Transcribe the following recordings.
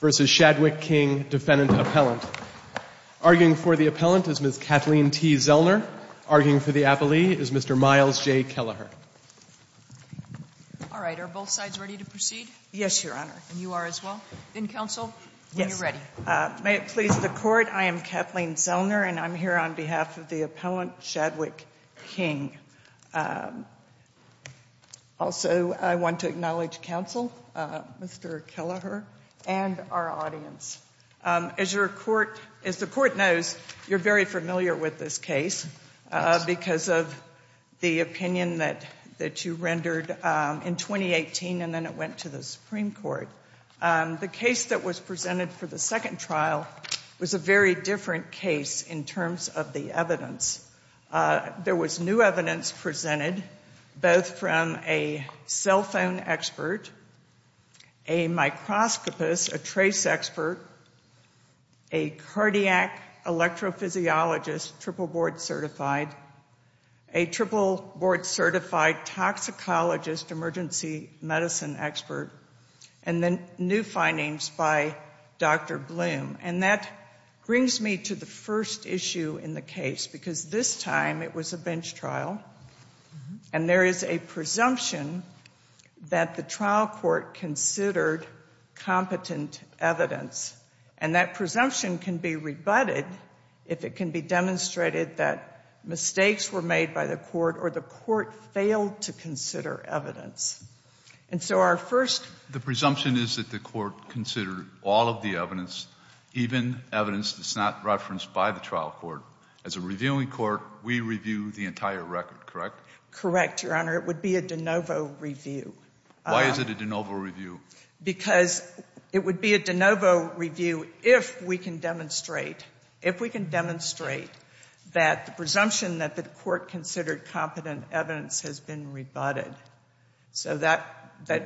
v. Shadwick King, Defendant Appellant. Arguing for the appellant is Ms. Kathleen T. Zellner. Ms. Zellner. Arguing for the appellee is Mr. Miles J. Kelleher. Ms. Zellner. All right. Are both sides ready to proceed? Mr. Kelleher. Yes, Your Honor. Ms. Zellner. And you are as well? Ms. Zellner. Yes. Ms. Zellner. Then, counsel, when you're ready. Ms. Zellner. May it please the Court, I am Kathleen Zellner, and I'm here on behalf of the Appellant Shadwick King. Also, I want to acknowledge counsel, Mr. Kelleher, and our audience. As the Court knows, you're very familiar with this case because of the opinion that you rendered in 2018, and then it went to the Supreme Court. The case that was presented for the second trial was a very different case in terms of the evidence. There was new evidence presented, both from a cell phone expert, a microscopist, a trace expert, a cardiac electrophysiologist, triple board certified, a triple board certified toxicologist, emergency medicine expert, and then new findings by Dr. Bloom. And that brings me to the first issue in the case, because this time it was a bench trial, and there is a presumption that the trial court considered competent evidence. And that presumption can be rebutted if it can be demonstrated that mistakes were made by the court or the court failed to consider evidence. And so our first Mr. Kelleher. The presumption is that the court considered all of the evidence, even evidence that's not referenced by the trial court. As a reviewing court, we review the entire record, correct? Correct, Your Honor. It would be a de novo review. Why is it a de novo review? Because it would be a de novo review if we can demonstrate, if we can demonstrate that the presumption that the court considered competent evidence has been rebutted. So that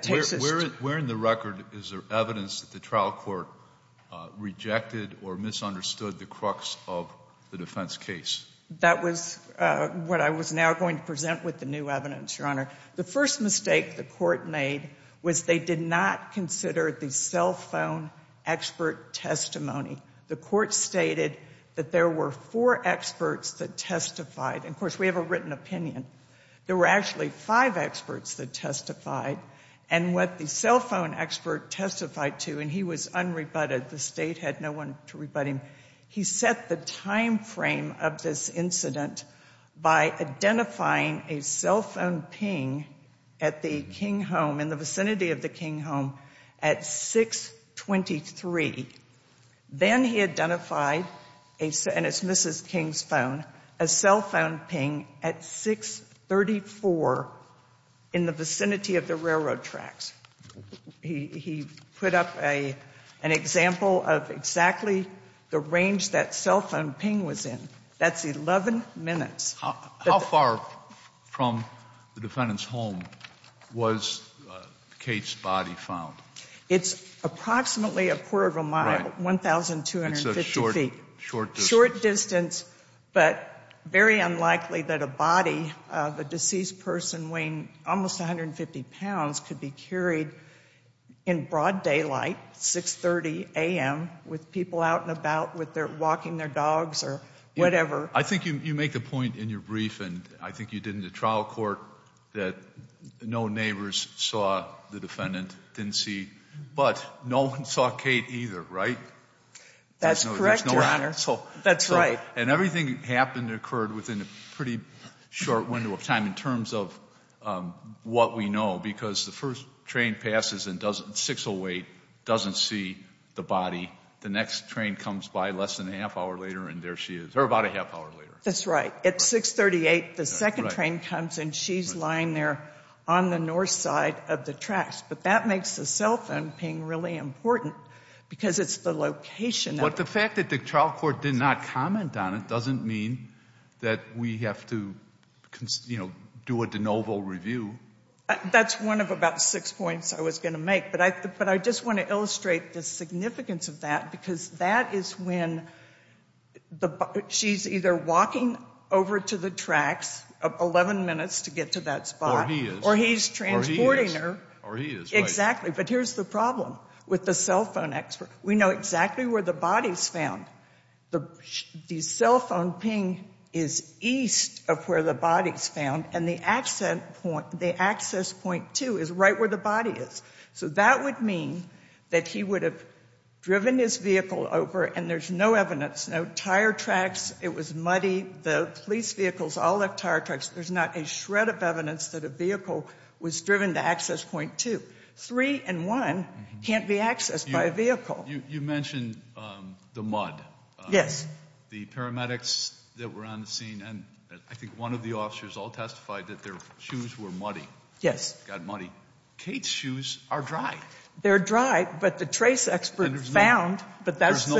takes us to Where in the record is there evidence that trial court rejected or misunderstood the crux of the defense case? That was what I was now going to present with the new evidence, Your Honor. The first mistake the court made was they did not consider the cell phone expert testimony. The court stated that there were four experts that testified. And of course, we have a written opinion. There were actually five experts that testified. And what the cell phone expert testified to, and he was unrebutted. The state had no one to rebut him. He set the time frame of this incident by identifying a cell phone ping at the King home, in the vicinity of the King home at 623. Then he identified, and it's Mrs. King's phone, a cell phone ping at 634 in the vicinity of the railroad tracks. He put up an example of exactly the range that cell phone ping was in. That's 11 minutes. How far from the defendant's home was Kate's body found? It's approximately a quarter of a mile, 1,250 feet. Short distance. Short distance, but very unlikely that a body of a deceased person weighing almost 150 pounds could be carried in broad daylight, 630 a.m., with people out and about, walking their dogs or whatever. I think you make the point in your brief, and I think you did in the trial court, that no neighbors saw the defendant, didn't see. But no one saw Kate either, right? That's correct, Your Honor. That's right. And everything happened, occurred within a pretty short window of time in terms of what we know, because the first train passes and 6 will wait, doesn't see the body. The next train comes by less than a half hour later, and there she is. Or about a half hour later. That's right. At 638, the second train comes, and she's lying there on the north side of the tracks. But that makes the cell phone ping really important, because it's the location. But the fact that the trial court did not comment on it doesn't mean that we have to, you know, do a de novo review. That's one of about six points I was going to make. But I just want to illustrate the significance of that, because that is when she's either walking over to the tracks, 11 minutes to get to that spot. Or he is. Or he's transporting her. Or he is, right. Exactly. But here's the problem with the cell phone expert. We know exactly where the body's found. The cell phone ping is east of where the body's found, and the access point 2 is right where the body is. So that would mean that he would have driven his vehicle over, and there's no evidence. No tire tracks. It was muddy. The police vehicles all have tire tracks. There's not a shred of evidence that a vehicle was driven to access point 2. 3 and 1 can't be accessed by a vehicle. You mentioned the mud. The paramedics that were on the scene, and I think one of the officers all testified that their shoes were muddy. Yes. Got muddy. Kate's shoes are dry. They're dry, but the trace expert found. But there's no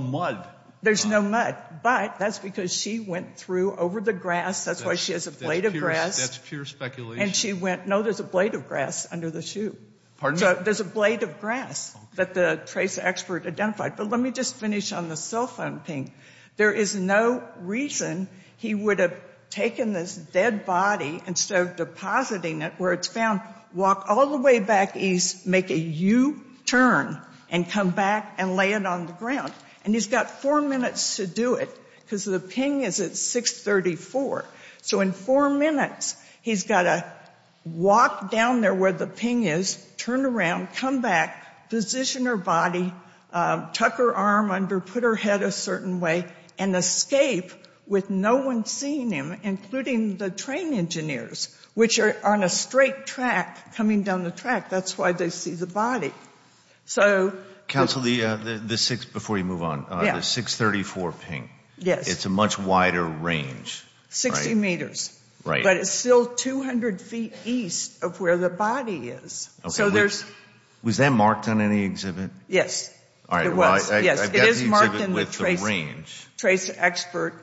mud. There's no mud. But that's because she went through over the grass. That's why she has a blade of grass. That's pure speculation. And she went, no, there's a blade of grass under the shoe. Pardon? There's a blade of grass that the trace expert identified. But let me just finish on the cell phone ping. There is no reason he would have taken this dead body and instead of depositing it where it's found, walk all the way back east, make a U-turn, and come back and lay it on the ground. And he's got four minutes to do it because the ping is at 634. So in four minutes, he's got to walk down there where the ping is, turn around, come back, position her body, tuck her arm under, put her head a certain way, and escape with no one seeing him, including the train engineers, which are on a straight track coming down the track. That's why they see the body. Counsel, before you move on, the 634 ping. Yes. It's a much wider range. 60 meters. Right. But it's still 200 feet east of where the body is. So there's... Was that marked on any exhibit? Yes, it was. Yes, it is marked in the trace expert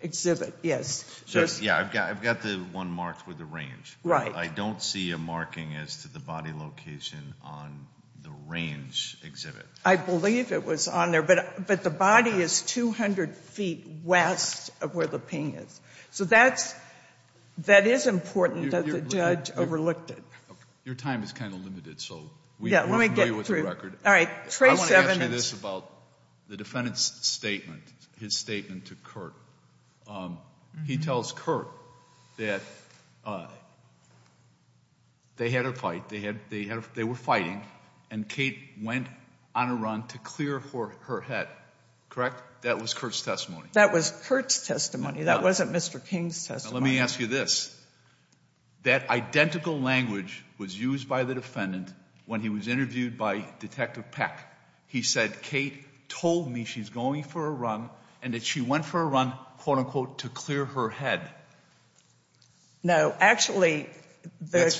exhibit. So yeah, I've got the one marked with the range. Right. I don't see a marking as to the body location on the range exhibit. I believe it was on there, but the body is 200 feet west of where the ping is. So that is important that the judge overlooked it. Your time is kind of limited, so we're familiar with the record. All right, trace evidence. I want to ask you this about the defendant's statement, his statement to Curt. He tells Curt that they had a fight. They were fighting, and Kate went on a run to clear her head. Correct? That was Curt's testimony. That was Curt's testimony. That wasn't Mr. King's testimony. Let me ask you this. That identical language was used by the defendant when he was interviewed by Detective Peck. He said, Kate told me she's going for a run and that she went for a run, quote-unquote, to clear her head. No, actually,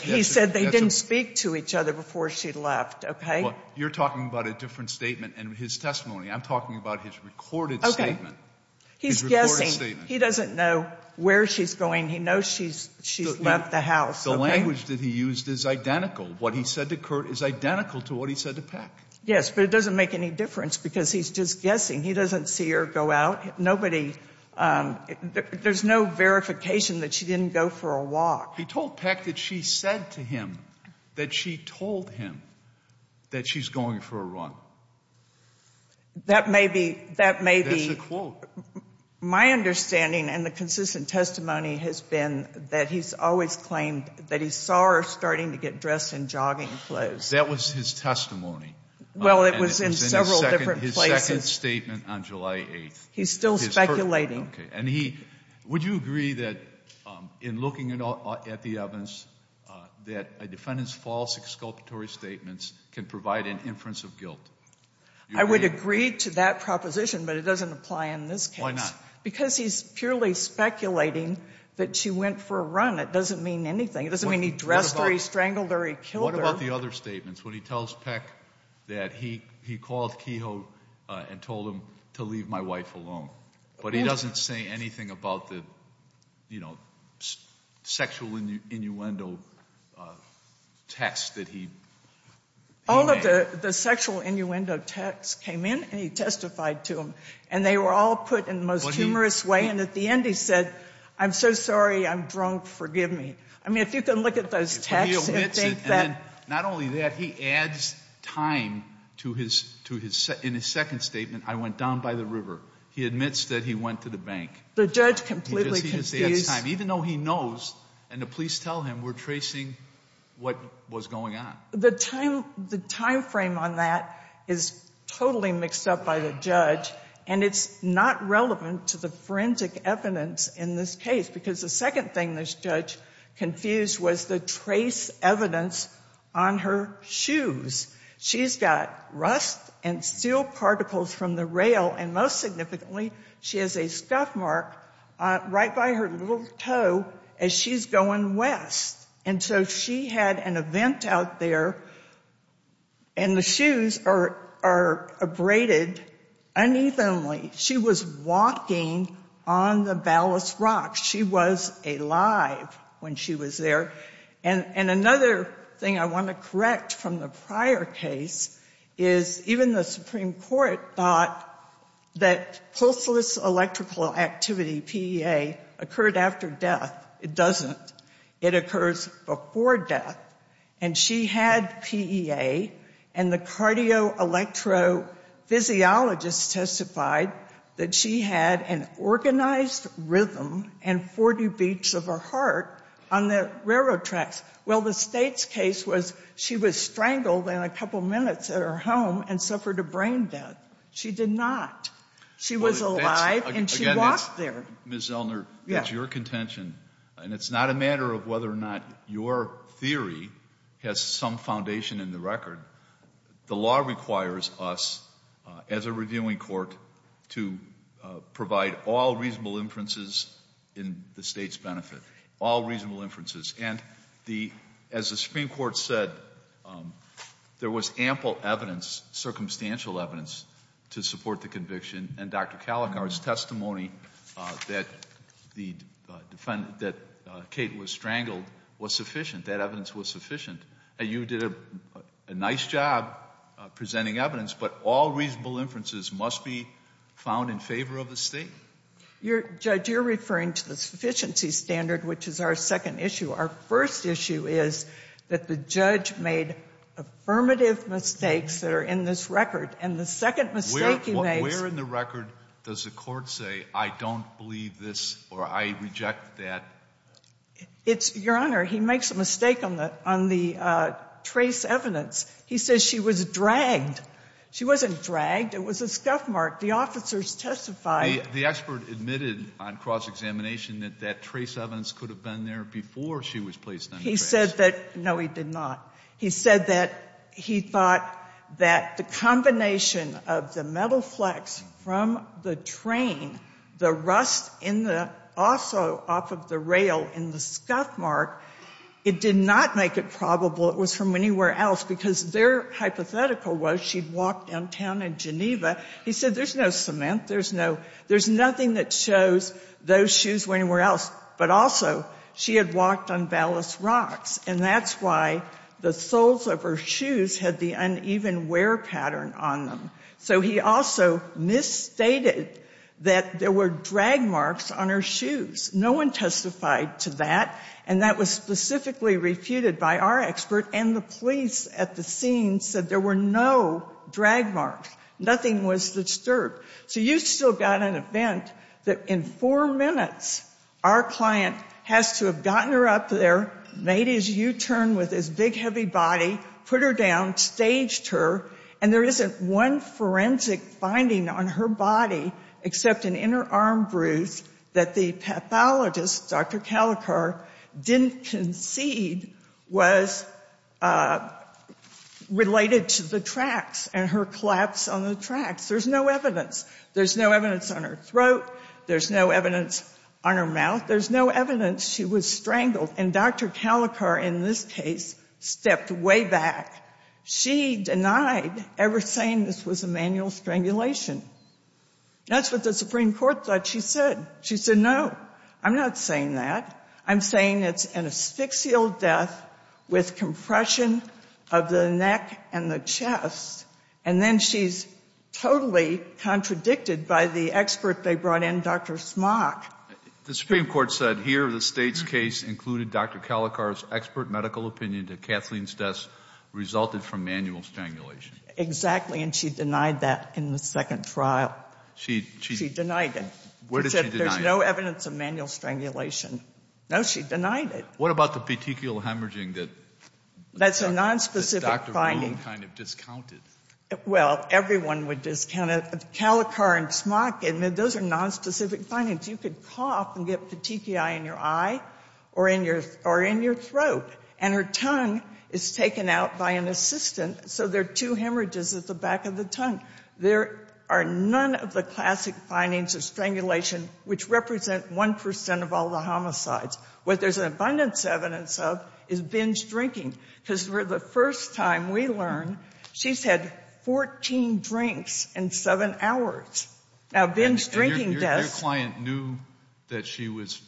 he said they didn't speak to each other before she left, okay? Well, you're talking about a different statement in his testimony. I'm talking about his recorded statement. Okay, he's guessing. He doesn't know where she's going. He knows she's left the house. The language that he used is identical. What he said to Curt is identical to what he said to Peck. Yes, but it doesn't make any difference because he's just guessing. He doesn't see her go out. Nobody, there's no verification that she didn't go for a walk. He told Peck that she said to him that she told him that she's going for a run. That may be, that may be. That's a quote. My understanding and the consistent testimony has been that he's always claimed that he saw her starting to get dressed in jogging clothes. That was his testimony. Well, it was in several different places. His second statement on July 8th. He's still speculating. Okay, and he, would you agree that in looking at the evidence that a defendant's false exculpatory statements can provide an inference of guilt? I would agree to that proposition, but it doesn't apply in this case. Because he's purely speculating that she went for a run. It doesn't mean anything. It doesn't mean he dressed her, he strangled her, he killed her. What about the other statements? When he tells Peck that he called Kehoe and told him to leave my wife alone. But he doesn't say anything about the, you know, sexual innuendo text that he. All of the sexual innuendo texts came in and he testified to them. And they were all put in the most humorous way. And at the end he said, I'm so sorry, I'm drunk, forgive me. I mean, if you can look at those texts and think that. Not only that, he adds time to his, in his second statement, I went down by the river. He admits that he went to the bank. The judge completely confused. Even though he knows, and the police tell him, we're tracing what was going on. The time, the time frame on that is totally mixed up by the judge. And it's not relevant to the forensic evidence in this case. Because the second thing this judge confused was the trace evidence on her shoes. She's got rust and steel particles from the rail. And most significantly, she has a scuff mark right by her little toe as she's going west. And so she had an event out there. And the shoes are abraded unevenly. She was walking on the ballast rocks. She was alive when she was there. And another thing I want to correct from the prior case is even the Supreme Court thought that pulseless electrical activity, PEA, occurred after death. It doesn't. It occurs before death. And she had PEA. And the cardio-electrophysiologist testified that she had an organized rhythm and 40 beats of her heart on the railroad tracks. Well, the state's case was she was strangled in a couple minutes at her home and suffered a brain death. She did not. She was alive and she walked there. Ms. Zellner, that's your contention. And it's not a matter of whether or not your theory has some foundation in the record. The law requires us, as a reviewing court, to provide all reasonable inferences in the state's benefit. All reasonable inferences. And as the Supreme Court said, there was ample evidence, circumstantial evidence, to support the conviction. And Dr. Calicard's testimony that Kate was strangled was sufficient. That evidence was sufficient. And you did a nice job presenting evidence. But all reasonable inferences must be found in favor of the state? Judge, you're referring to the sufficiency standard, which is our second issue. Our first issue is that the judge made affirmative mistakes that are in this record. And the second mistake he makes— Where in the record does the court say, I don't believe this or I reject that? Your Honor, he makes a mistake on the trace evidence. He says she was dragged. She wasn't dragged. It was a scuff mark. The officers testified— The expert admitted on cross-examination that that trace evidence could have been there before she was placed under trace. He said that—no, he did not. He said that he thought that the combination of the metal flex from the train, the rust in the—also off of the rail in the scuff mark, it did not make it probable it was from anywhere else because their hypothetical was she'd walked downtown in Geneva. He said there's no cement. There's no—there's nothing that shows those shoes were anywhere else. But also, she had walked on ballast rocks. And that's why the soles of her shoes had the uneven wear pattern on them. So he also misstated that there were drag marks on her shoes. No one testified to that. And that was specifically refuted by our expert. And the police at the scene said there were no drag marks. Nothing was disturbed. So you still got an event that in four minutes our client has to have gotten her up there, made his U-turn with his big heavy body, put her down, staged her. And there isn't one forensic finding on her body except an inner arm bruise that the pathologist, Dr. Calicar, didn't concede was related to the tracks and her collapse on the tracks. There's no evidence. There's no evidence on her throat. There's no evidence on her mouth. There's no evidence she was strangled. And Dr. Calicar in this case stepped way back. She denied ever saying this was a manual strangulation. That's what the Supreme Court thought she said. She said, no, I'm not saying that. I'm saying it's an asphyxial death with compression of the neck and the chest. And then she's totally contradicted by the expert they brought in, Dr. Smock. The Supreme Court said here the state's case included Dr. Calicar's expert medical opinion that Kathleen's death resulted from manual strangulation. Exactly. And she denied that in the second trial. She denied it. Where did she deny it? There's no evidence of manual strangulation. No, she denied it. What about the petechial hemorrhaging that Dr. Roon kind of discounted? Well, everyone would discount it. Calicar and Smock, those are nonspecific findings. You could cough and get petechiae in your eye or in your throat. And her tongue is taken out by an assistant. So there are two hemorrhages at the back of the tongue. There are none of the classic findings of strangulation, which represent 1% of all the homicides. What there's an abundance of evidence of is Ben's drinking. Because for the first time we learned, she's had 14 drinks in seven hours. Now, Ben's drinking deaths- Her client knew that she was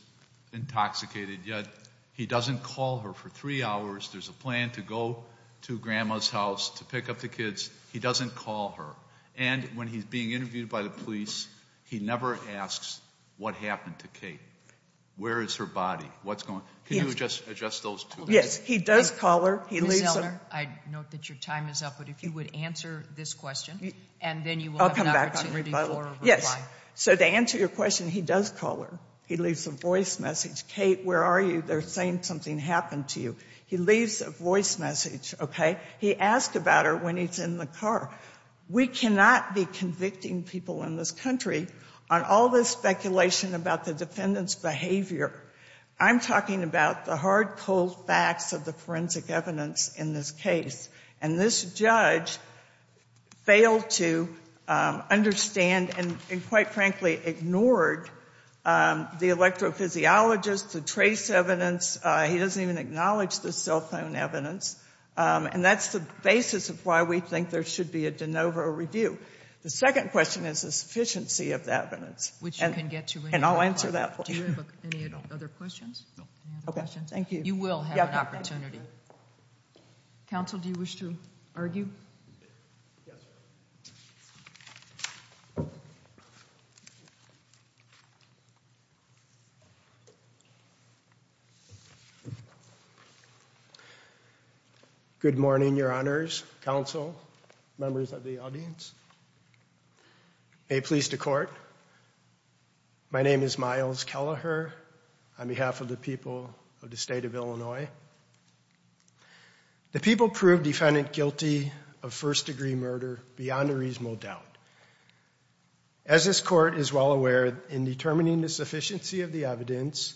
intoxicated, yet he doesn't call her for three hours. There's a plan to go to grandma's house to pick up the kids. He doesn't call her. And when he's being interviewed by the police, he never asks what happened to Kate. Where is her body? What's going- Can you just adjust those two? Yes. He does call her. He leaves her. I note that your time is up. But if you would answer this question, and then you will have an opportunity for a reply. So to answer your question, he does call her. He leaves a voice message. Kate, where are you? They're saying something happened to you. He leaves a voice message, okay? He asked about her when he's in the car. We cannot be convicting people in this country on all this speculation about the defendant's behavior. I'm talking about the hard, cold facts of the forensic evidence in this case. And this judge failed to understand and, quite frankly, ignored the electrophysiologist, the trace evidence. He doesn't even acknowledge the cell phone evidence. And that's the basis of why we think there should be a de novo review. The second question is the sufficiency of the evidence. Which you can get to- And I'll answer that for you. Do you have any other questions? No. Any other questions? Thank you. You will have an opportunity. Counsel, do you wish to argue? Yes, ma'am. Good morning, Your Honors, Counsel, members of the audience. May it please the Court, my name is Myles Kelleher on behalf of the people of the state of Illinois. The people proved defendant guilty of first-degree murder beyond a reasonable doubt. As this Court is well aware, in determining the sufficiency of the evidence,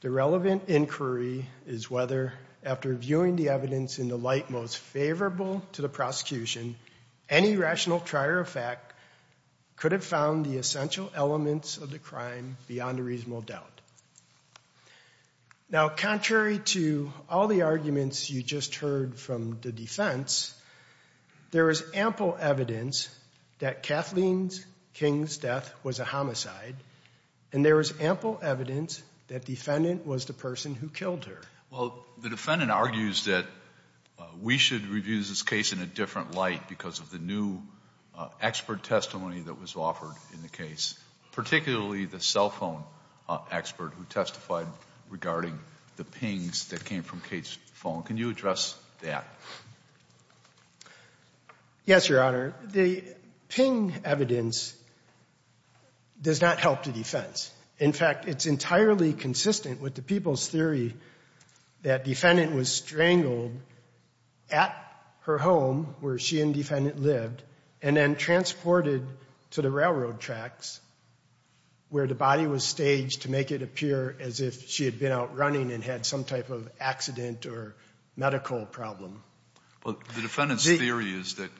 the relevant inquiry is whether, after viewing the evidence in the light most favorable to the prosecution, any rational trier of fact could have found the essential elements of the crime beyond a reasonable doubt. Now, contrary to all the arguments you just heard from the defense, there is ample evidence that Kathleen King's death was a homicide, and there is ample evidence that defendant was the person who killed her. Well, the defendant argues that we should review this case in a different light because of the new expert testimony that was offered in the case, particularly the cell phone expert who testified regarding the pings that came from Kate's phone. Can you address that? Yes, Your Honor. The ping evidence does not help the defense. In fact, it's entirely consistent with the people's theory that defendant was strangled at her home, where she and defendant lived, and then transported to the railroad tracks where the body was staged to make it appear as if she had been out running and had some type of accident or medical problem. Well, the defendant's theory is that...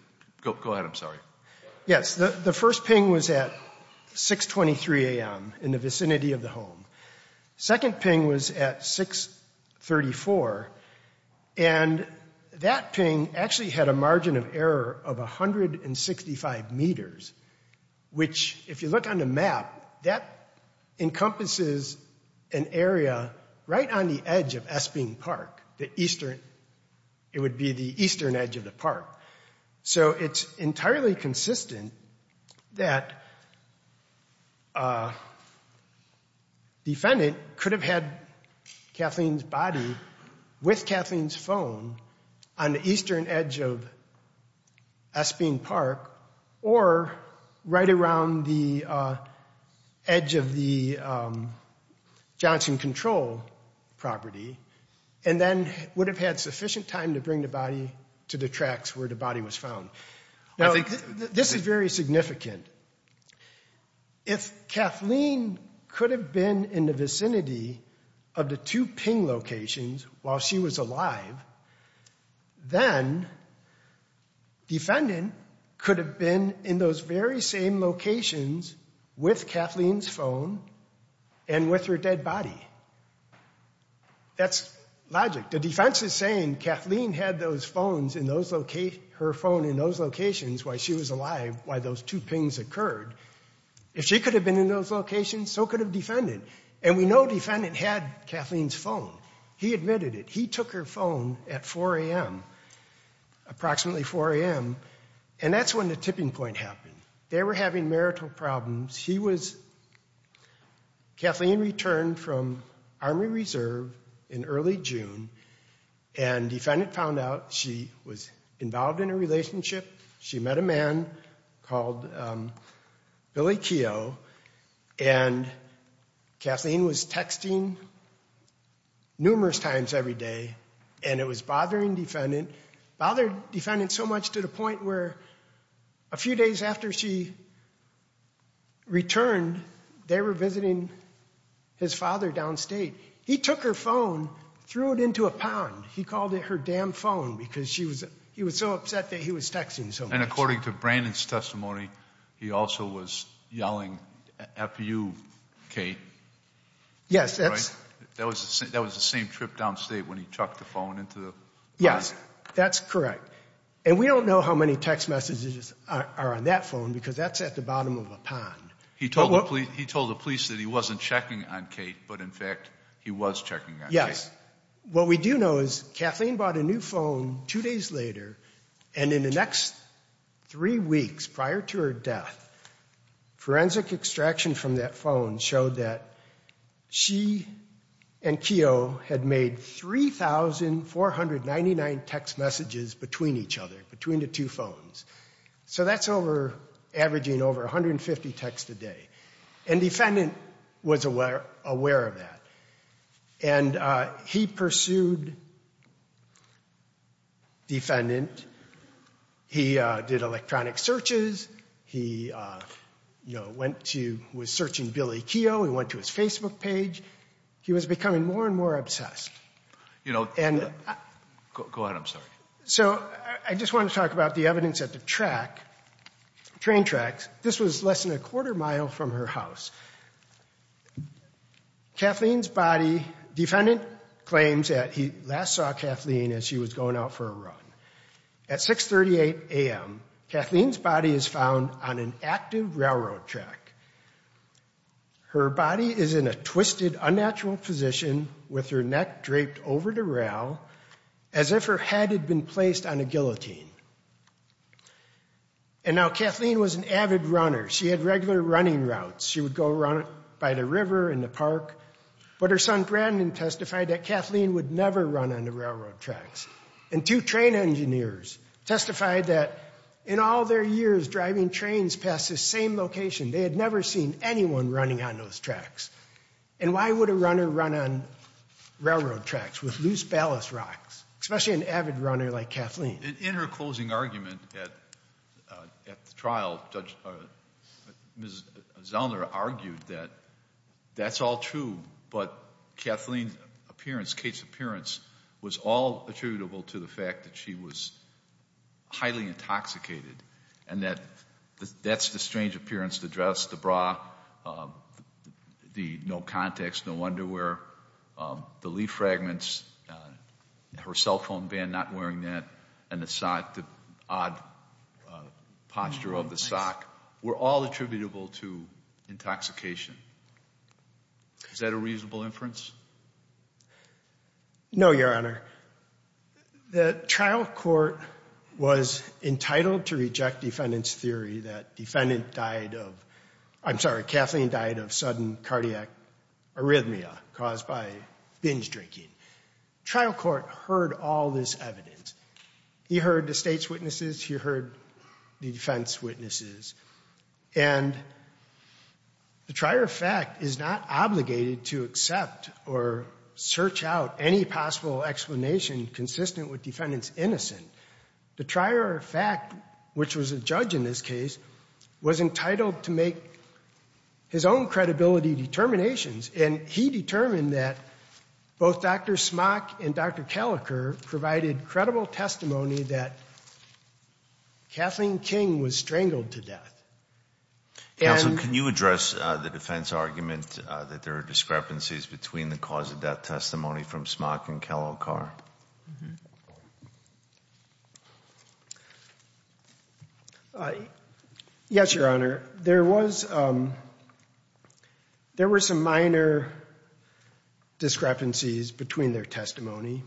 Go ahead, I'm sorry. Yes, the first ping was at 623 a.m. in the vicinity of the home. Second ping was at 634 and that ping actually had a margin of error of 165 meters, which if you look on the map, that encompasses an area right on the edge of Esping Park, the eastern, it would be the eastern edge of the park. So it's entirely consistent that that defendant could have had Kathleen's body with Kathleen's phone on the eastern edge of Esping Park or right around the edge of the Johnson Control property and then would have had sufficient time to bring the body to the tracks where the body was found. Now, this is very significant. If Kathleen could have been in the vicinity of the two ping locations while she was alive, then defendant could have been in those very same locations with Kathleen's phone and with her dead body. That's logic. The defense is saying Kathleen had her phone in those locations while she was alive while those two pings occurred. If she could have been in those locations, so could have defendant. And we know defendant had Kathleen's phone. He admitted it. He took her phone at 4 a.m., approximately 4 a.m., and that's when the tipping point happened. They were having marital problems. Kathleen returned from Army Reserve in early June, and defendant found out she was involved in a relationship. She met a man called Billy Keough, and Kathleen was texting numerous times every day, and it was bothering defendant. It bothered defendant so much to the extent where a few days after she returned, they were visiting his father downstate. He took her phone, threw it into a pond. He called it her damn phone because he was so upset that he was texting so much. And according to Brandon's testimony, he also was yelling, F-U, Kate. Yes. That was the same trip downstate when he chucked the phone into the pond. Yes, that's correct. And we don't know how many text messages are on that phone because that's at the bottom of a pond. He told the police that he wasn't checking on Kate, but in fact he was checking on Kate. Yes. What we do know is Kathleen bought a new phone two days later, and in the next three weeks prior to her death, forensic extraction from that phone showed that she and Keough had made 3,499 text messages between each other, between the two phones. So that's averaging over 150 texts a day, and defendant was aware of that. And he pursued defendant. He did electronic searches. He, you know, went to, was searching Billy Keough. He went to his Facebook page. He was becoming more and more obsessed. You know, go ahead, I'm sorry. So I just wanted to talk about the evidence at the track, train tracks. This was less than a quarter mile from her house. Kathleen's body, defendant claims that he last saw Kathleen as she was going out for a run. At 6.38 a.m., Kathleen's body is found on an active railroad track. Her body is in a twisted, unnatural position with her neck draped over the rail, as if her head had been placed on a guillotine. And now Kathleen was an avid runner. She had regular running routes. She would go run by the river, in the park. But her son, Brandon, testified that Kathleen would never run on the railroad tracks. And two train engineers testified that in all their years driving trains past the same location, they had never seen anyone running on those tracks. And why would a runner run on railroad tracks with loose ballast rocks, especially an avid runner like Kathleen? And in her closing argument at the trial, Ms. Zellner argued that that's all true. But Kathleen's appearance, Kate's appearance, was all attributable to the fact that she was highly intoxicated and that that's the strange appearance, the dress, the bra, the no contacts, no underwear, the leaf fragments, her cell phone band not wearing that, and the odd posture of the sock were all attributable to intoxication. Is that a reasonable inference? No, Your Honor. The trial court was entitled to reject defendant's theory that defendant died of, I'm sorry, Kathleen died of sudden cardiac arrhythmia caused by binge drinking. Trial court heard all this evidence. He heard the state's witnesses. He heard the defense witnesses. And the trier of fact is not obligated to accept or search out any possible explanation consistent with defendant's innocence. The trier of fact, which was a judge in this case, was entitled to make his own credibility determinations. And he determined that both Dr. Smock and Dr. Kalliker provided credible testimony that Kathleen King was strangled to death. Counsel, can you address the defense argument that there are discrepancies between the cause of death testimony from Smock and Kalliker? Yes, Your Honor. There was, there were some minor discrepancies between their testimony,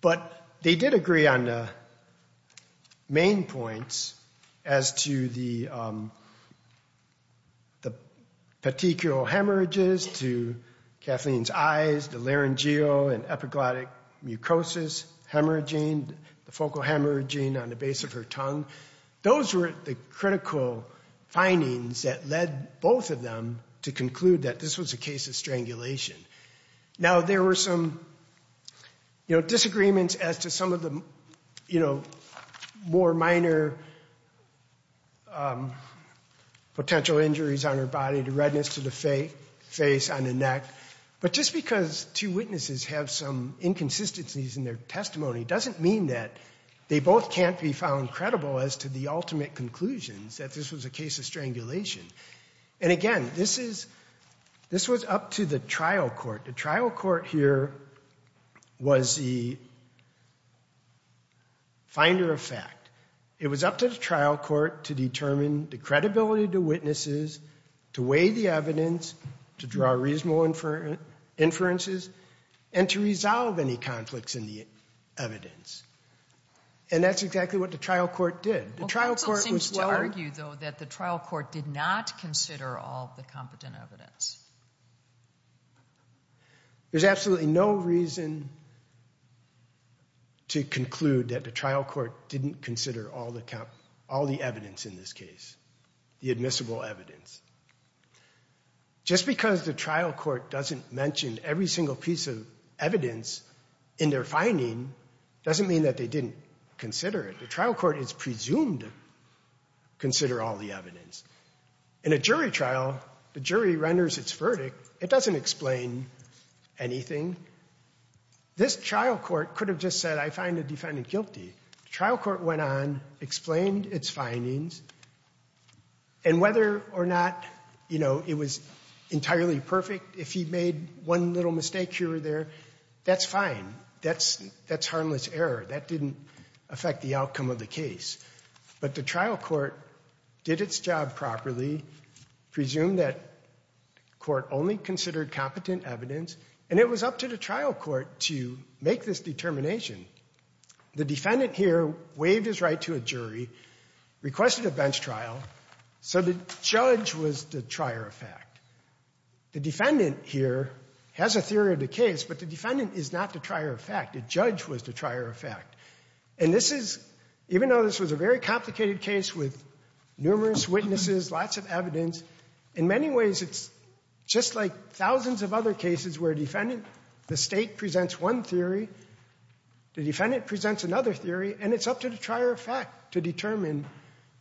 but they did agree on the main points as to the the petechial hemorrhages to Kathleen's eyes, the laryngeal and epiglottic that led both of them to conclude that this was a case of strangulation. Now, there were some, you know, disagreements as to some of the, you know, more minor potential injuries on her body, the redness to the face on the neck. But just because two witnesses have some inconsistencies in their testimony doesn't mean that they both can't be credible as to the ultimate conclusions that this was a case of strangulation. And again, this is, this was up to the trial court. The trial court here was the finder of fact. It was up to the trial court to determine the credibility to witnesses, to weigh the evidence, to draw reasonable inferences, and to resolve any conflicts in the case. And the trial court did. The trial court was well argued though that the trial court did not consider all the competent evidence. There's absolutely no reason to conclude that the trial court didn't consider all the, all the evidence in this case, the admissible evidence. Just because the trial court doesn't mention every single piece of evidence in their finding doesn't mean that they didn't consider it. The trial court is presumed to consider all the evidence. In a jury trial, the jury renders its verdict. It doesn't explain anything. This trial court could have just said, I find the defendant guilty. The trial court went on, explained its findings, and whether or not, you know, it was entirely perfect, if he made one little mistake here or there, that's fine. That's, that's harmless error. That didn't affect the outcome of the case. But the trial court did its job properly, presumed that court only considered competent evidence, and it was up to the trial court to make this determination. The defendant here waived his right to a jury, requested a bench trial, so the judge was the trier of fact. The defendant here has a theory of the case, but the defendant is not the trier of fact. The judge was the trier of fact. And this is, even though this was a very complicated case with numerous witnesses, lots of evidence, in many ways it's just like thousands of other cases where a defendant, the State presents one theory, the defendant presents another theory, and it's up to the trier of fact to determine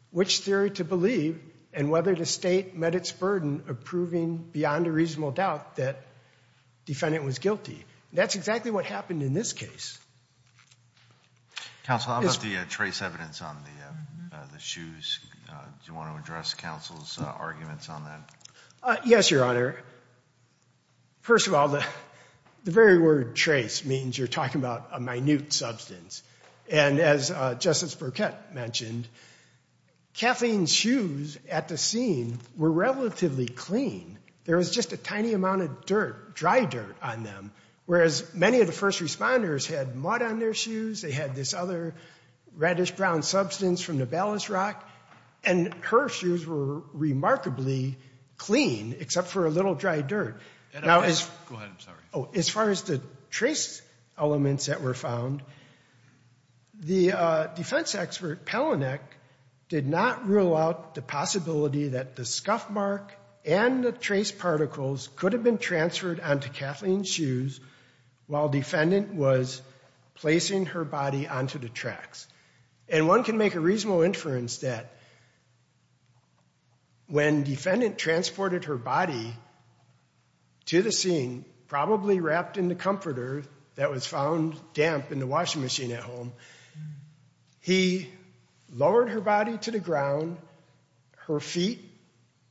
which theory to believe, and whether the State met its burden of proving beyond a reasonable doubt that the defendant was guilty. That's exactly what happened in this case. Counsel, how about the trace evidence on the shoes? Do you want to address counsel's arguments on that? Yes, Your Honor. First of all, the very word trace means you're talking about a minute substance, and as Justice Burkett mentioned, Kathleen's shoes at the scene were relatively clean. There was just a tiny amount of dirt, dry dirt, on them, whereas many of the first responders had mud on their shoes, they had this other reddish-brown substance from the ballast rock, and her shoes were remarkably clean, except for a little dry dirt. Go ahead, I'm sorry. As far as the trace elements that were found, the defense expert Pelinek did not rule out the possibility that the scuff mark and the trace particles could have been transferred onto Kathleen's shoes while defendant was placing her body onto the tracks. And one can make a reasonable inference that when defendant transported her body to the scene, probably wrapped in the comforter that was found damp in the washing machine at home, he lowered her body to the ground, her feet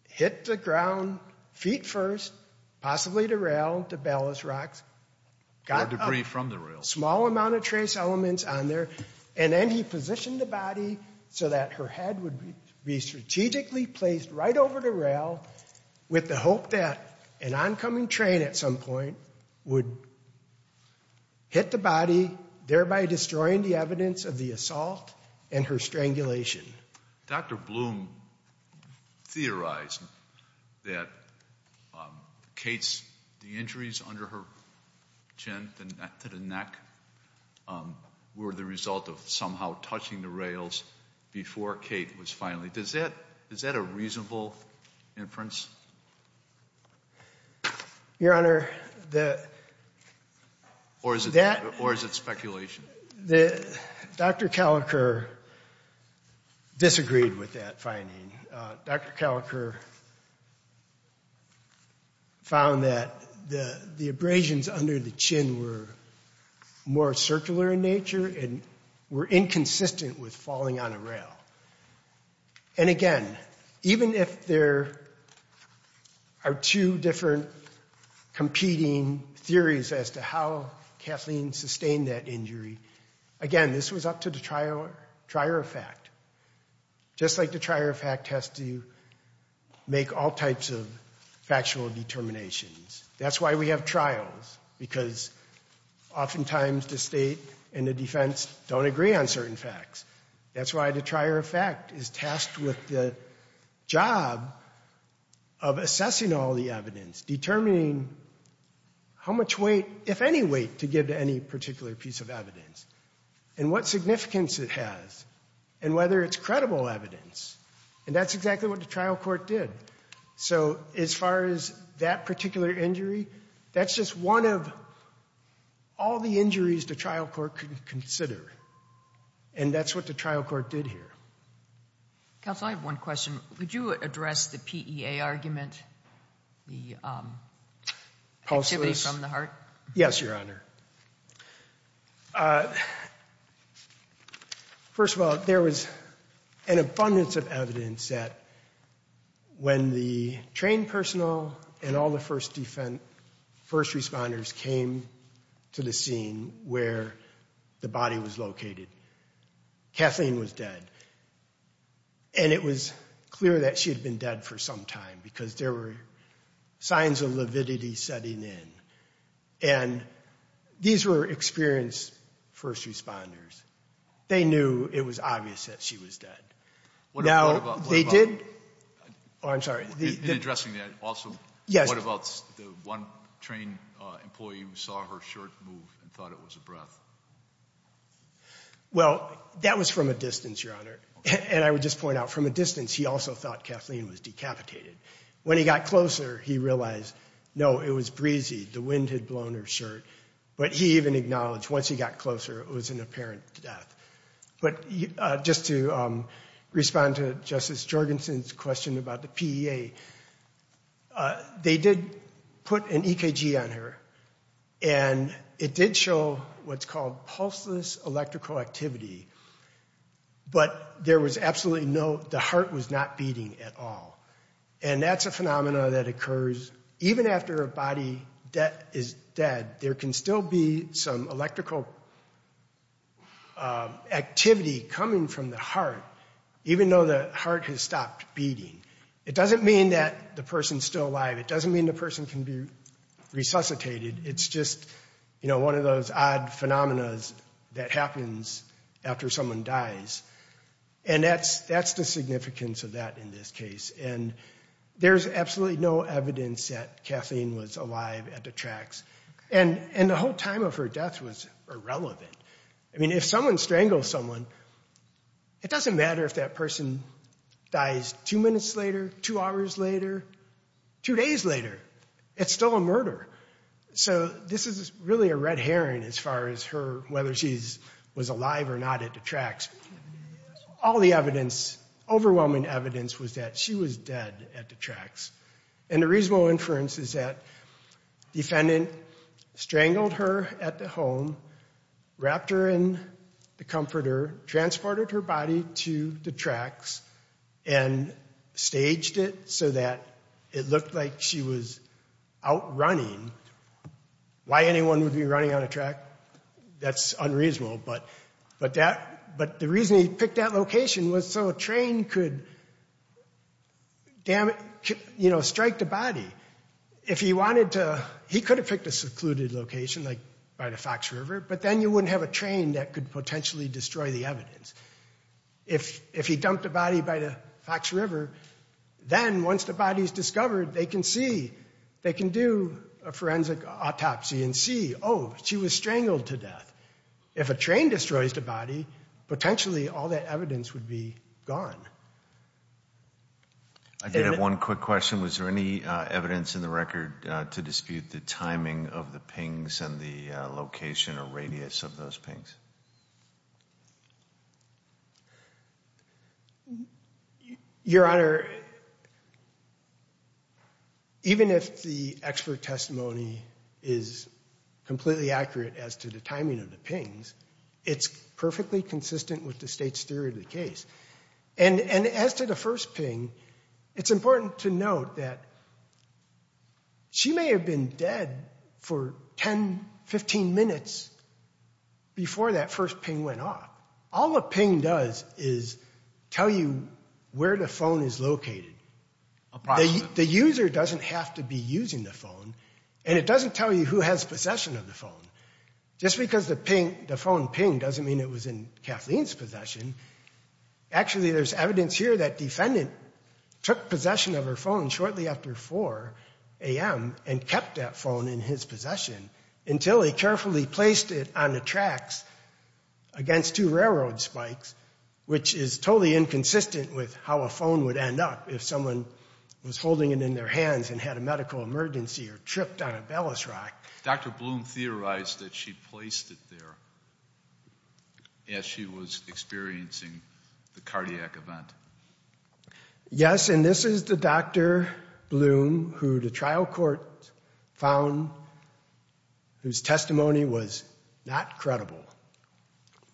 hit the ground, feet first, possibly the rail, the ballast rocks, got a small amount of trace elements on there, and then he positioned the body so that her head would be strategically placed right over the rail with the hope that an oncoming train at some point would hit the body, thereby destroying the evidence of the assault and her strangulation. Dr. Bloom theorized that Kate's, the injuries under her chin, to the neck, were the result of somehow touching the rails before Kate was finally, does that, is that a reasonable inference? Your Honor, the... Or is it speculation? Dr. Calicur disagreed with that finding. Dr. Calicur found that the abrasions under the chin were more circular in nature and were inconsistent with falling on a rail. And again, even if there are two different competing theories as to how Kathleen sustained that injury, again, this was up to the trier effect. Just like the trier effect has to make all types of factual determinations. That's why we have trials, because oftentimes the state and the defense don't agree on certain facts. That's why the trier effect is tasked with the job of assessing all the evidence, determining how much weight, if any weight, to give to any particular piece of evidence, and what significance it has, and whether it's credible evidence. And that's exactly what the trial court did. So as far as that particular injury, that's just one of all the injuries the trial court could consider. And that's what the trial court did here. Counsel, I have one question. Would you address the PEA argument, the activity from the heart? Yes, Your Honor. First of all, there was an abundance of evidence that when the trained personnel and all the first responders came to the scene where the body was located, Kathleen was dead. And it was clear that she had been dead for some time, because there were signs of lividity setting in. And these were experienced first responders. They knew it was obvious that she was dead. Now, they did... In addressing that, also, what about the one trained employee who saw her shirt move and thought it was a breath? Well, that was from a distance, Your Honor. And I would just point out, from a distance, he also thought Kathleen was decapitated. When he got closer, he realized, no, it was breezy. The wind had blown her shirt. But he even acknowledged, once he got closer, it was an apparent death. But just to respond to Justice Jorgensen's question about the PEA, they did put an EKG on her. And it did show what's called pulseless electrical activity. But there was absolutely no... The heart was not beating at all. And that's a phenomenon that occurs even after a body that is dead. There can still be some electrical activity coming from the heart, even though the heart has stopped beating. It doesn't mean that the person's still alive. It doesn't mean the person can be resuscitated. It's just, you know, one of those odd phenomenas that happens after someone dies. And that's the significance of that in this case. And there's absolutely no evidence that Kathleen was alive at the tracks. And the whole time of her death was irrelevant. I mean, if someone strangles someone, it doesn't matter if that person dies two minutes later, two hours later, two days later. It's still a murder. So this is really a red herring as far as whether she was alive or not at the tracks. All the evidence, overwhelming evidence, was that she was dead at the tracks. And the reasonable inference is that the defendant strangled her at the home, wrapped her in the comforter, transported her body to the tracks, and staged it so that it looked like she was out running Why anyone would be running on a track, that's unreasonable. But the reason he picked that location was so a train could strike the body. If he wanted to, he could have picked a secluded location like by the Fox River, but then you wouldn't have a train that could potentially destroy the evidence. If he dumped the body by the Fox River, then once the body's discovered, they can see. They can do a forensic autopsy and see, oh, she was strangled to death. If a train destroys the body, potentially all that evidence would be gone. I did have one quick question. Was there any evidence in the record to dispute the timing of the pings and the location or radius of those pings? Your Honor, even if the expert testimony is completely accurate as to the timing of the pings, it's perfectly consistent with the state's theory of the case. And as to the first ping, it's important to note that she may have been dead for 10, 15 minutes before the first ping went off. All a ping does is tell you where the phone is located. The user doesn't have to be using the phone, and it doesn't tell you who has possession of the phone. Just because the phone pinged doesn't mean it was in Kathleen's possession. Actually, there's evidence here that defendant took possession of her phone shortly after 4 a.m. and kept that phone in his possession until he carefully placed it on the tracks against two railroad spikes, which is totally inconsistent with how a phone would end up if someone was holding it in their hands and had a medical emergency or tripped on a ballast rock. Dr. Bloom theorized that she placed it there as she was experiencing the cardiac event. Yes, and this is the Dr. Bloom who the trial court found whose testimony was not credible.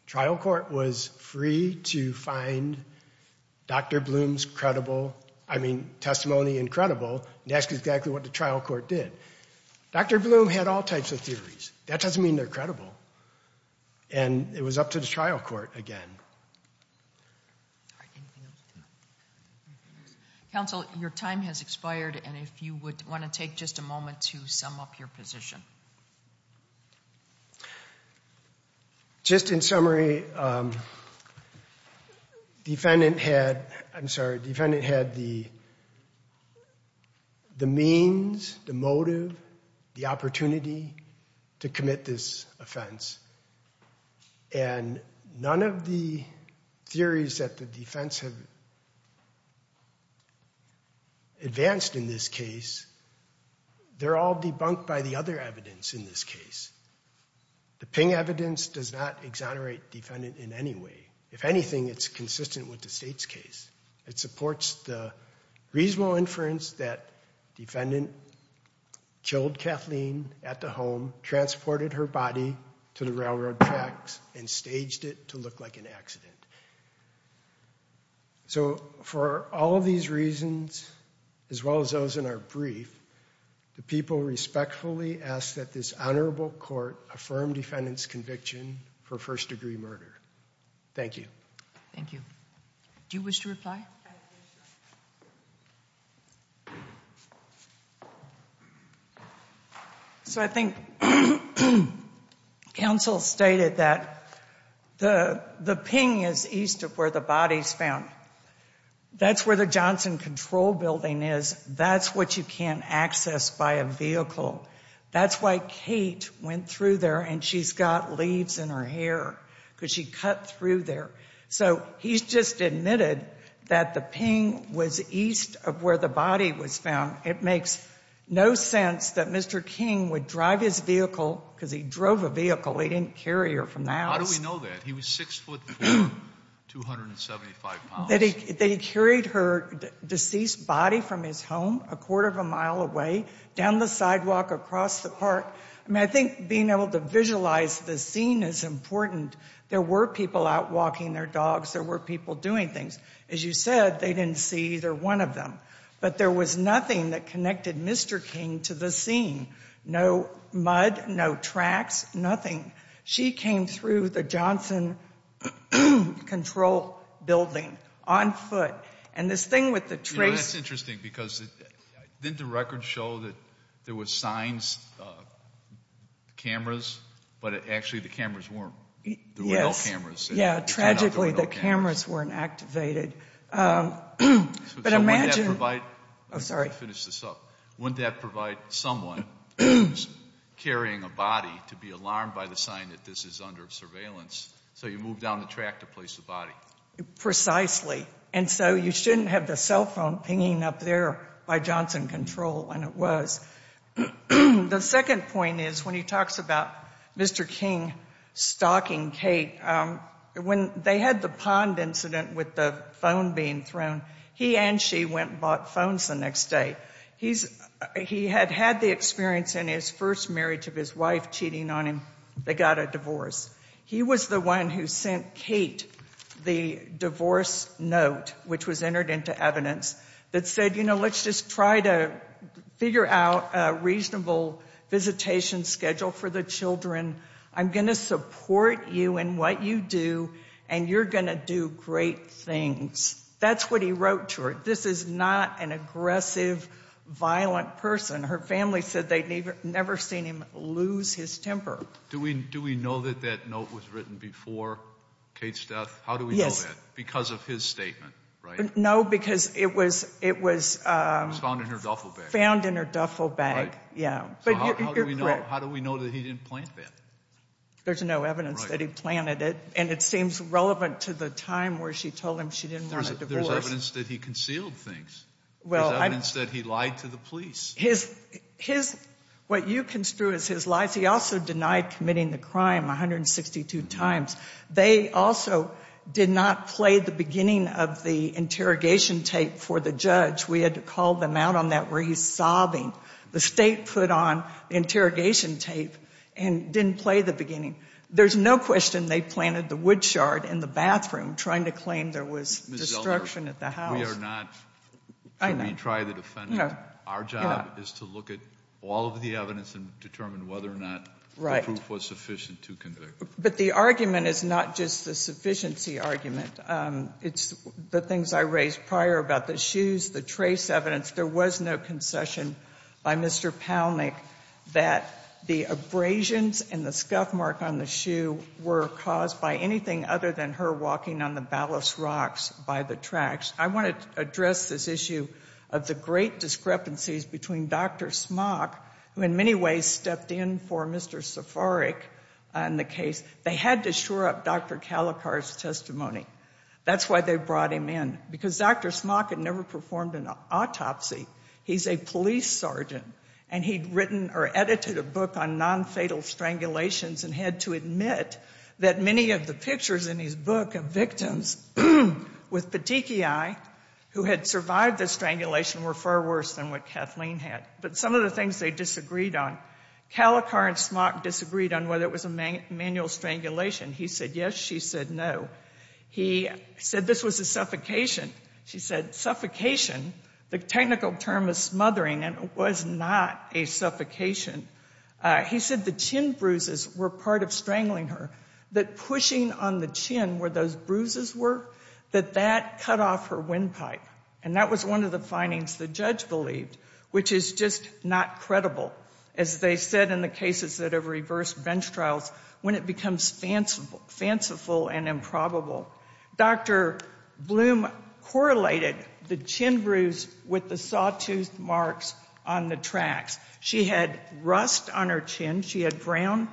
Trial court was free to find Dr. Bloom's credible, I mean testimony and credible, and ask exactly what the trial court did. Dr. Bloom had all types of theories. That doesn't mean they're credible. And it was up to the trial court again. All right, anything else? Counsel, your time has expired, and if you would want to take just a moment to sum up your position. Just in summary, defendant had, I'm sorry, defendant had the theories that the defense had advanced in this case. They're all debunked by the other evidence in this case. The Ping evidence does not exonerate defendant in any way. If anything, it's consistent with the state's case. It supports the reasonable inference that defendant killed Kathleen at the home, transported her body to the railroad tracks, and staged it to look like an accident. So for all of these reasons, as well as those in our brief, the people respectfully ask that this honorable court affirm defendant's conviction for first-degree murder. Thank you. Thank you. Do you wish to reply? So I think counsel stated that the Ping is east of where the body's found. That's where the Johnson Control Building is. That's what you can't access by a vehicle. That's why Kate went through there, and she's got leaves in her hair because she cut through there. So he's just admitted that the Ping was east of where the body was found. It makes no sense that Mr. King would drive his vehicle, because he drove a vehicle. He didn't carry her from the house. How do we know that? He was six foot four, 275 pounds. That he carried her deceased body from his home a quarter of a mile away, down the sidewalk, across the park. I mean, I think being able to visualize the scene is important. There were people out walking their dogs. There were people doing things. As you said, they didn't see either one of them. But there was nothing that connected Mr. King to the scene. No mud, no tracks, nothing. She came through the Johnson Control Building on foot. And this thing with the trace... It's interesting, because didn't the record show that there were signs, cameras, but actually the cameras weren't. There were no cameras. Yes. Yeah, tragically the cameras weren't activated. But imagine... So wouldn't that provide... Oh, sorry. Let me finish this up. Wouldn't that provide someone carrying a body to be alarmed by the sign that this is under surveillance, so you move down the track to place the body? Precisely. And so you shouldn't have the cell pinging up there by Johnson Control when it was. The second point is when he talks about Mr. King stalking Kate, when they had the pond incident with the phone being thrown, he and she went and bought phones the next day. He had had the experience in his first marriage of his wife cheating on him. They got a divorce. He was the one who sent Kate the divorce note, which was entered into evidence, that said, you know, let's just try to figure out a reasonable visitation schedule for the children. I'm going to support you in what you do, and you're going to do great things. That's what he wrote to her. This is not an aggressive, violent person. Her family said they'd never seen him lose his temper. Do we know that that note was written before Kate's death? How do we know that? Because of his statement, right? No, because it was, it was found in her duffel bag. Yeah. How do we know that he didn't plant that? There's no evidence that he planted it, and it seems relevant to the time where she told him she didn't want a divorce. There's evidence that he concealed things. There's evidence that he lied to the police. His, what you construe as his lies, he also denied committing the crime 162 times. They also did not play the beginning of the interrogation tape for the judge. We had to call them out on that where he's sobbing. The state put on the interrogation tape and didn't play the beginning. There's no question they planted the wood shard in the bathroom trying to claim there was destruction at the house. We are not, we try the defendant. Our job is to look at all of the evidence and determine whether or not the proof was sufficient to convict. But the argument is not just the sufficiency argument. It's the things I raised prior about the shoes, the trace evidence. There was no concession by Mr. Palnick that the abrasions and the scuff mark on the shoe were caused by anything other than her walking on the ballast rocks by the tracks. I want to address this issue of the great discrepancies between Dr. Smock, who in many ways stepped in for Mr. Safaric in the case. They had to shore up Dr. Calicar's testimony. That's why they brought him in, because Dr. Smock had never performed an autopsy. He's a police sergeant, and he'd written or edited a book on nonfatal strangulations and had to admit that many of the pictures in his book of victims with petechiae who had survived the strangulation were far worse than what Kathleen had. But some of the things they disagreed on, Calicar and Smock disagreed on whether it was a manual strangulation. He said yes. She said no. He said this was a suffocation. She said suffocation, the technical term is smothering, and it was not a suffocation. He said the chin bruises were part of strangling her, that pushing on the chin where those bruises were, that that cut off her windpipe. And that was one of the findings the judge believed, which is just not credible, as they said in the cases that have reversed bench trials, when it becomes fanciful and improbable. Dr. Bloom correlated the chin bruise with the saw-tooth marks on the tracks. She had rust on her chin, she had brown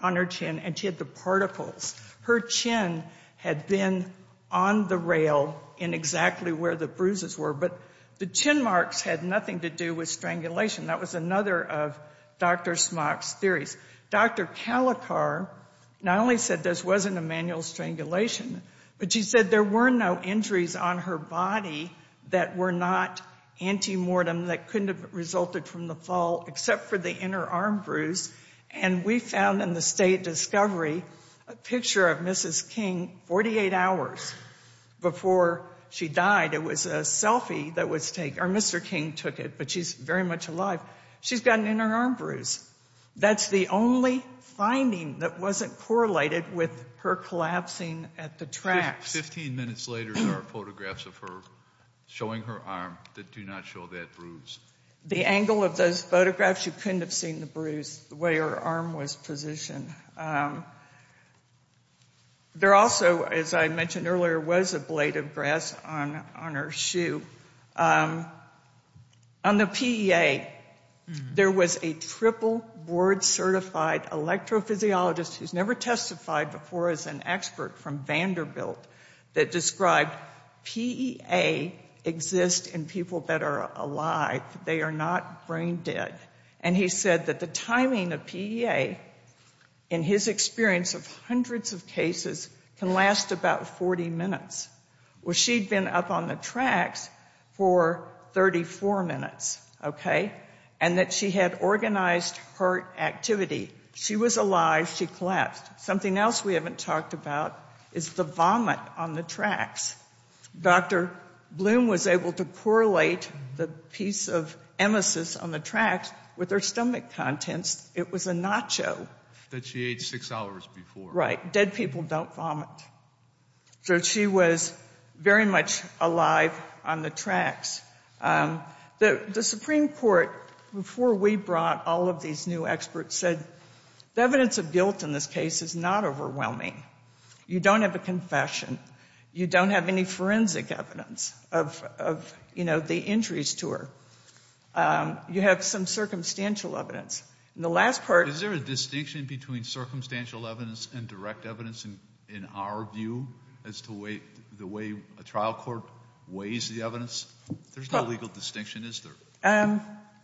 on her chin, and she had the particles. Her chin had been on the rail in exactly where the bruises were, but the chin marks had nothing to do with strangulation. That was another of Dr. Smock's theories. Dr. Calicar not only said this wasn't a manual strangulation, but she said there were no injuries on her body that were not antemortem, that couldn't have resulted from the fall, except for the inner arm bruise. And we found in the state discovery a picture of Mrs. King 48 hours before she died. It was a selfie that was taken, or Mr. King took it, but she's very much alive. She's got an inner arm bruise. That's the only finding that wasn't correlated with her collapsing at the tracks. Fifteen minutes later there are photographs of her showing her arm that do not show that bruise. The angle of those photographs, you couldn't have seen the bruise, the way her arm was positioned. There also, as I mentioned earlier, was a blade of grass on her shoe. On the PEA there was a triple board certified electrophysiologist who's never testified before as an expert from Vanderbilt that described PEA exists in people that are alive, they are not brain dead. And he said that the timing of PEA, in his experience of hundreds of cases, can last about 40 minutes. Well, she'd been up on the tracks for 34 minutes, okay, and that she had organized her activity. She was alive, she collapsed. Something else we haven't talked about is the vomit on the tracks. Dr. Bloom was able to correlate the piece of emesis on the tracks with her stomach contents. It was a nacho. That she ate six hours before. Right. Dead people don't vomit. So she was very much alive on the tracks. The Supreme Court, before we brought all of these new experts, said the evidence of guilt in this case is not overwhelming. You don't have a confession. You don't have any forensic evidence of, you know, the injuries to her. You have some circumstantial evidence. And the last part... Is there a distinction between circumstantial evidence and direct evidence, in our view, as to the way a trial court weighs the evidence? There's no legal distinction, is there?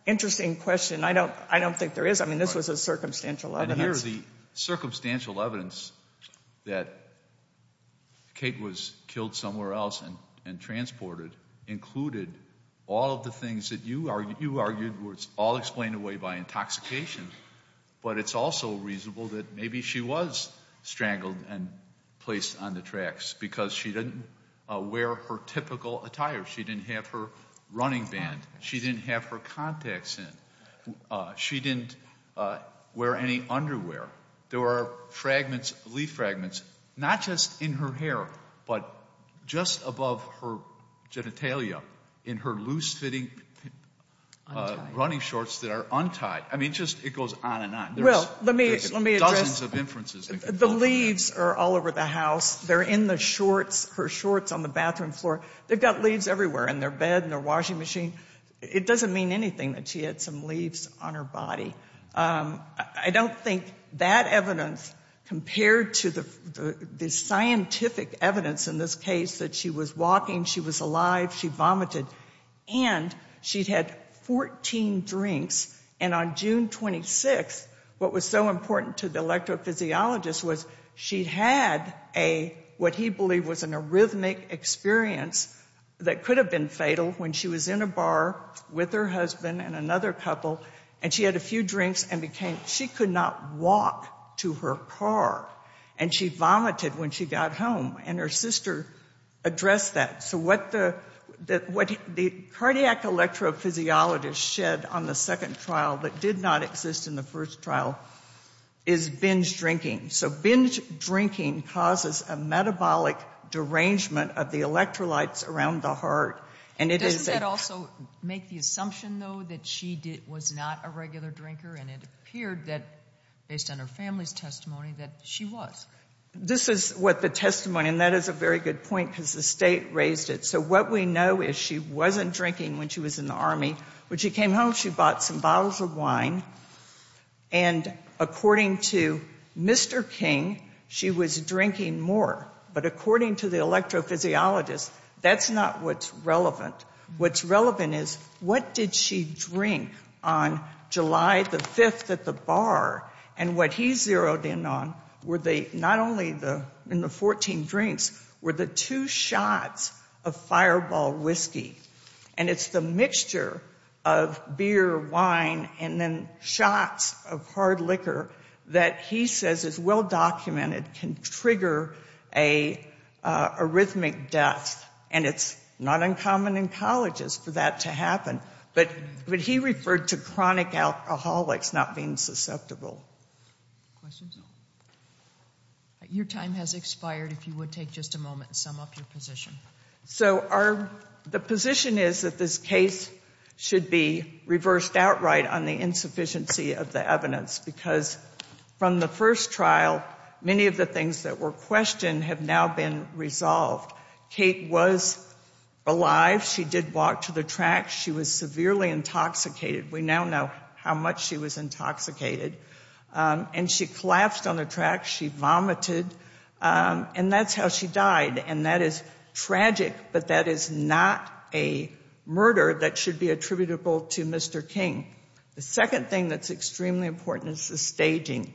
Interesting question. I don't think there is. I mean, this was a circumstantial evidence. And here's the circumstantial evidence that Kate was killed somewhere else and transported included all of the things that you argued were all explained away by intoxication. But it's also reasonable that maybe she was strangled and placed on the tracks, because she didn't wear her typical attire. She didn't have her running band. She didn't have her contacts in. She didn't wear any underwear. There were fragments, leaf fragments, not just in her hair, but just above her genitalia, in her loose-fitting running shorts that are untied. I mean, just, it goes on and on. Well, let me address... There's dozens of inferences. The leaves are all over the house. They're in the shorts, her shorts, on the bathroom floor. They've got leaves everywhere, in their bed, in their washing machine. It doesn't mean anything that she had some leaves on her body. I don't think that evidence, compared to the scientific evidence in this case, that she was walking, she was alive, she vomited. And she'd had 14 drinks. And on June 26th, what was so important to the electrophysiologist was she had what he believed was an arrhythmic experience that could have been fatal when she was in a bar with her husband and another couple. And she had a few drinks and became... She could not walk to her car. And she vomited when she got home. And her sister addressed that. So what the cardiac electrophysiologist shed on the second trial that did not exist in the first trial is binge drinking. So binge drinking causes a metabolic derangement of the electrolytes around the heart. And it is... Doesn't that also make the assumption, though, that she was not a regular drinker? And it appeared that, based on her family's testimony, that she was. This is what the testimony, and that is a very good point because the state raised it. So what we know is she wasn't drinking when she was in the Army. When she came home, she bought some bottles of wine. And according to Mr. King, she was drinking more. But according to the electrophysiologist, that's not what's relevant. What's relevant is what did she drink on July the 5th at the bar? And what he zeroed in on were the, not only the, in the 14 drinks, were the two shots of fireball whiskey. And it's the mixture of beer, wine, and then shots of hard liquor that he says is well-documented can trigger an arrhythmic death. And it's not common in colleges for that to happen. But he referred to chronic alcoholics not being susceptible. Questions? Your time has expired. If you would take just a moment to sum up your position. So our, the position is that this case should be reversed outright on the insufficiency of the evidence because from the first trial, many of the things that were questioned have now been resolved. Kate was alive. She did walk to the track. She was severely intoxicated. We now know how much she was intoxicated. And she collapsed on the track. She vomited. And that's how she died. And that is tragic, but that is not a murder that should be attributable to Mr. King. The second thing that's extremely important is the staging.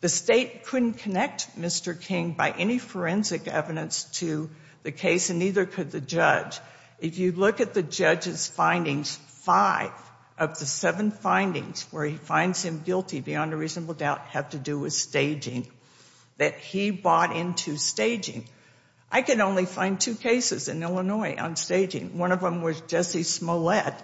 The State couldn't connect Mr. King by any forensic evidence to the case and neither could the judge. If you look at the judge's findings, five of the seven findings where he finds him guilty beyond a reasonable doubt have to do with staging, that he bought into staging. I can only find two cases in Illinois on staging. One of them was Jesse Smollett.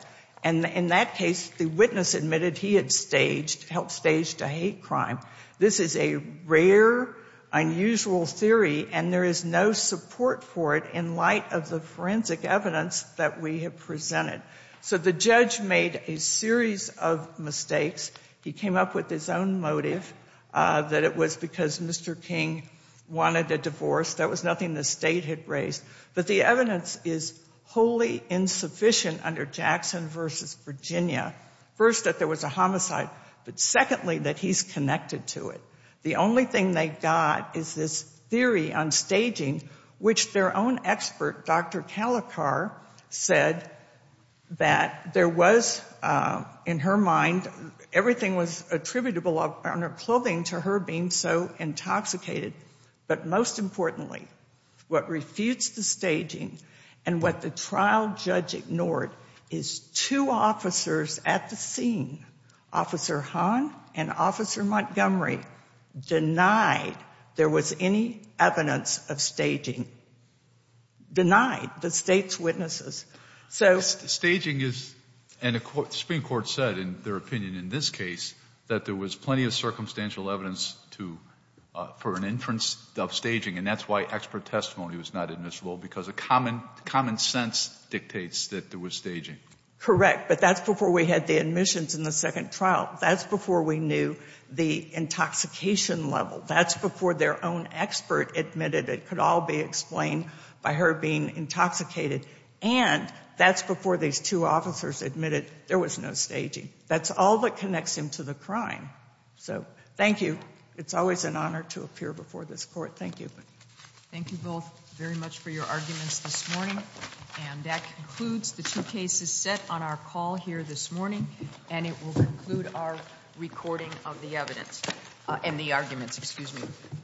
And in that case, the witness admitted he had staged, helped stage a hate crime. This is a rare, unusual theory and there is no support for it in light of the forensic evidence that we have presented. So the judge made a series of mistakes. He came up with his own motive that it was because Mr. King wanted a divorce. That was nothing the State had raised. But the evidence is wholly insufficient under Jackson v. Virginia. First, that there was a but secondly, that he's connected to it. The only thing they got is this theory on staging, which their own expert, Dr. Calicar, said that there was, in her mind, everything was attributable on her clothing to her being so intoxicated. But most importantly, what refutes the staging and what the trial judge ignored is two officers at the scene, Officer Hahn and Officer Montgomery, denied there was any evidence of staging. Denied, the State's witnesses. Staging is, and the Supreme Court said in their opinion in this case, that there was plenty of circumstantial evidence for an inference of staging. And that's why expert testimony was not admissible, because common sense dictates that there was staging. Correct. But that's before we had the admissions in the second trial. That's before we knew the intoxication level. That's before their own expert admitted it could all be explained by her being intoxicated. And that's before these two officers admitted there was no staging. That's all that connects him to the crime. So thank you. It's always an honor to appear before this court. Thank you. Thank you both very much for your arguments this morning. And that concludes the two cases set on our call here this morning. And it will conclude our recording of the evidence and the arguments, excuse me.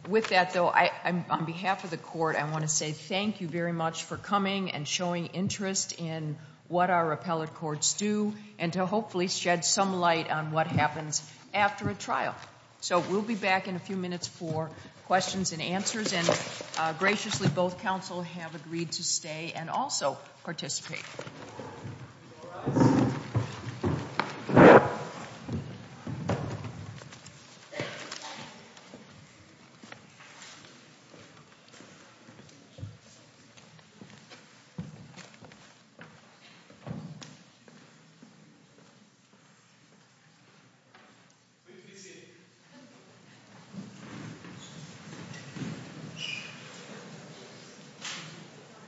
With that, though, on behalf of the court, I want to say thank you very much for coming and showing interest in what our appellate courts do and to hopefully shed some light on what happens after a trial. So we'll be back in a few minutes for questions and answers. And graciously, both counsel have agreed to stay and also participate.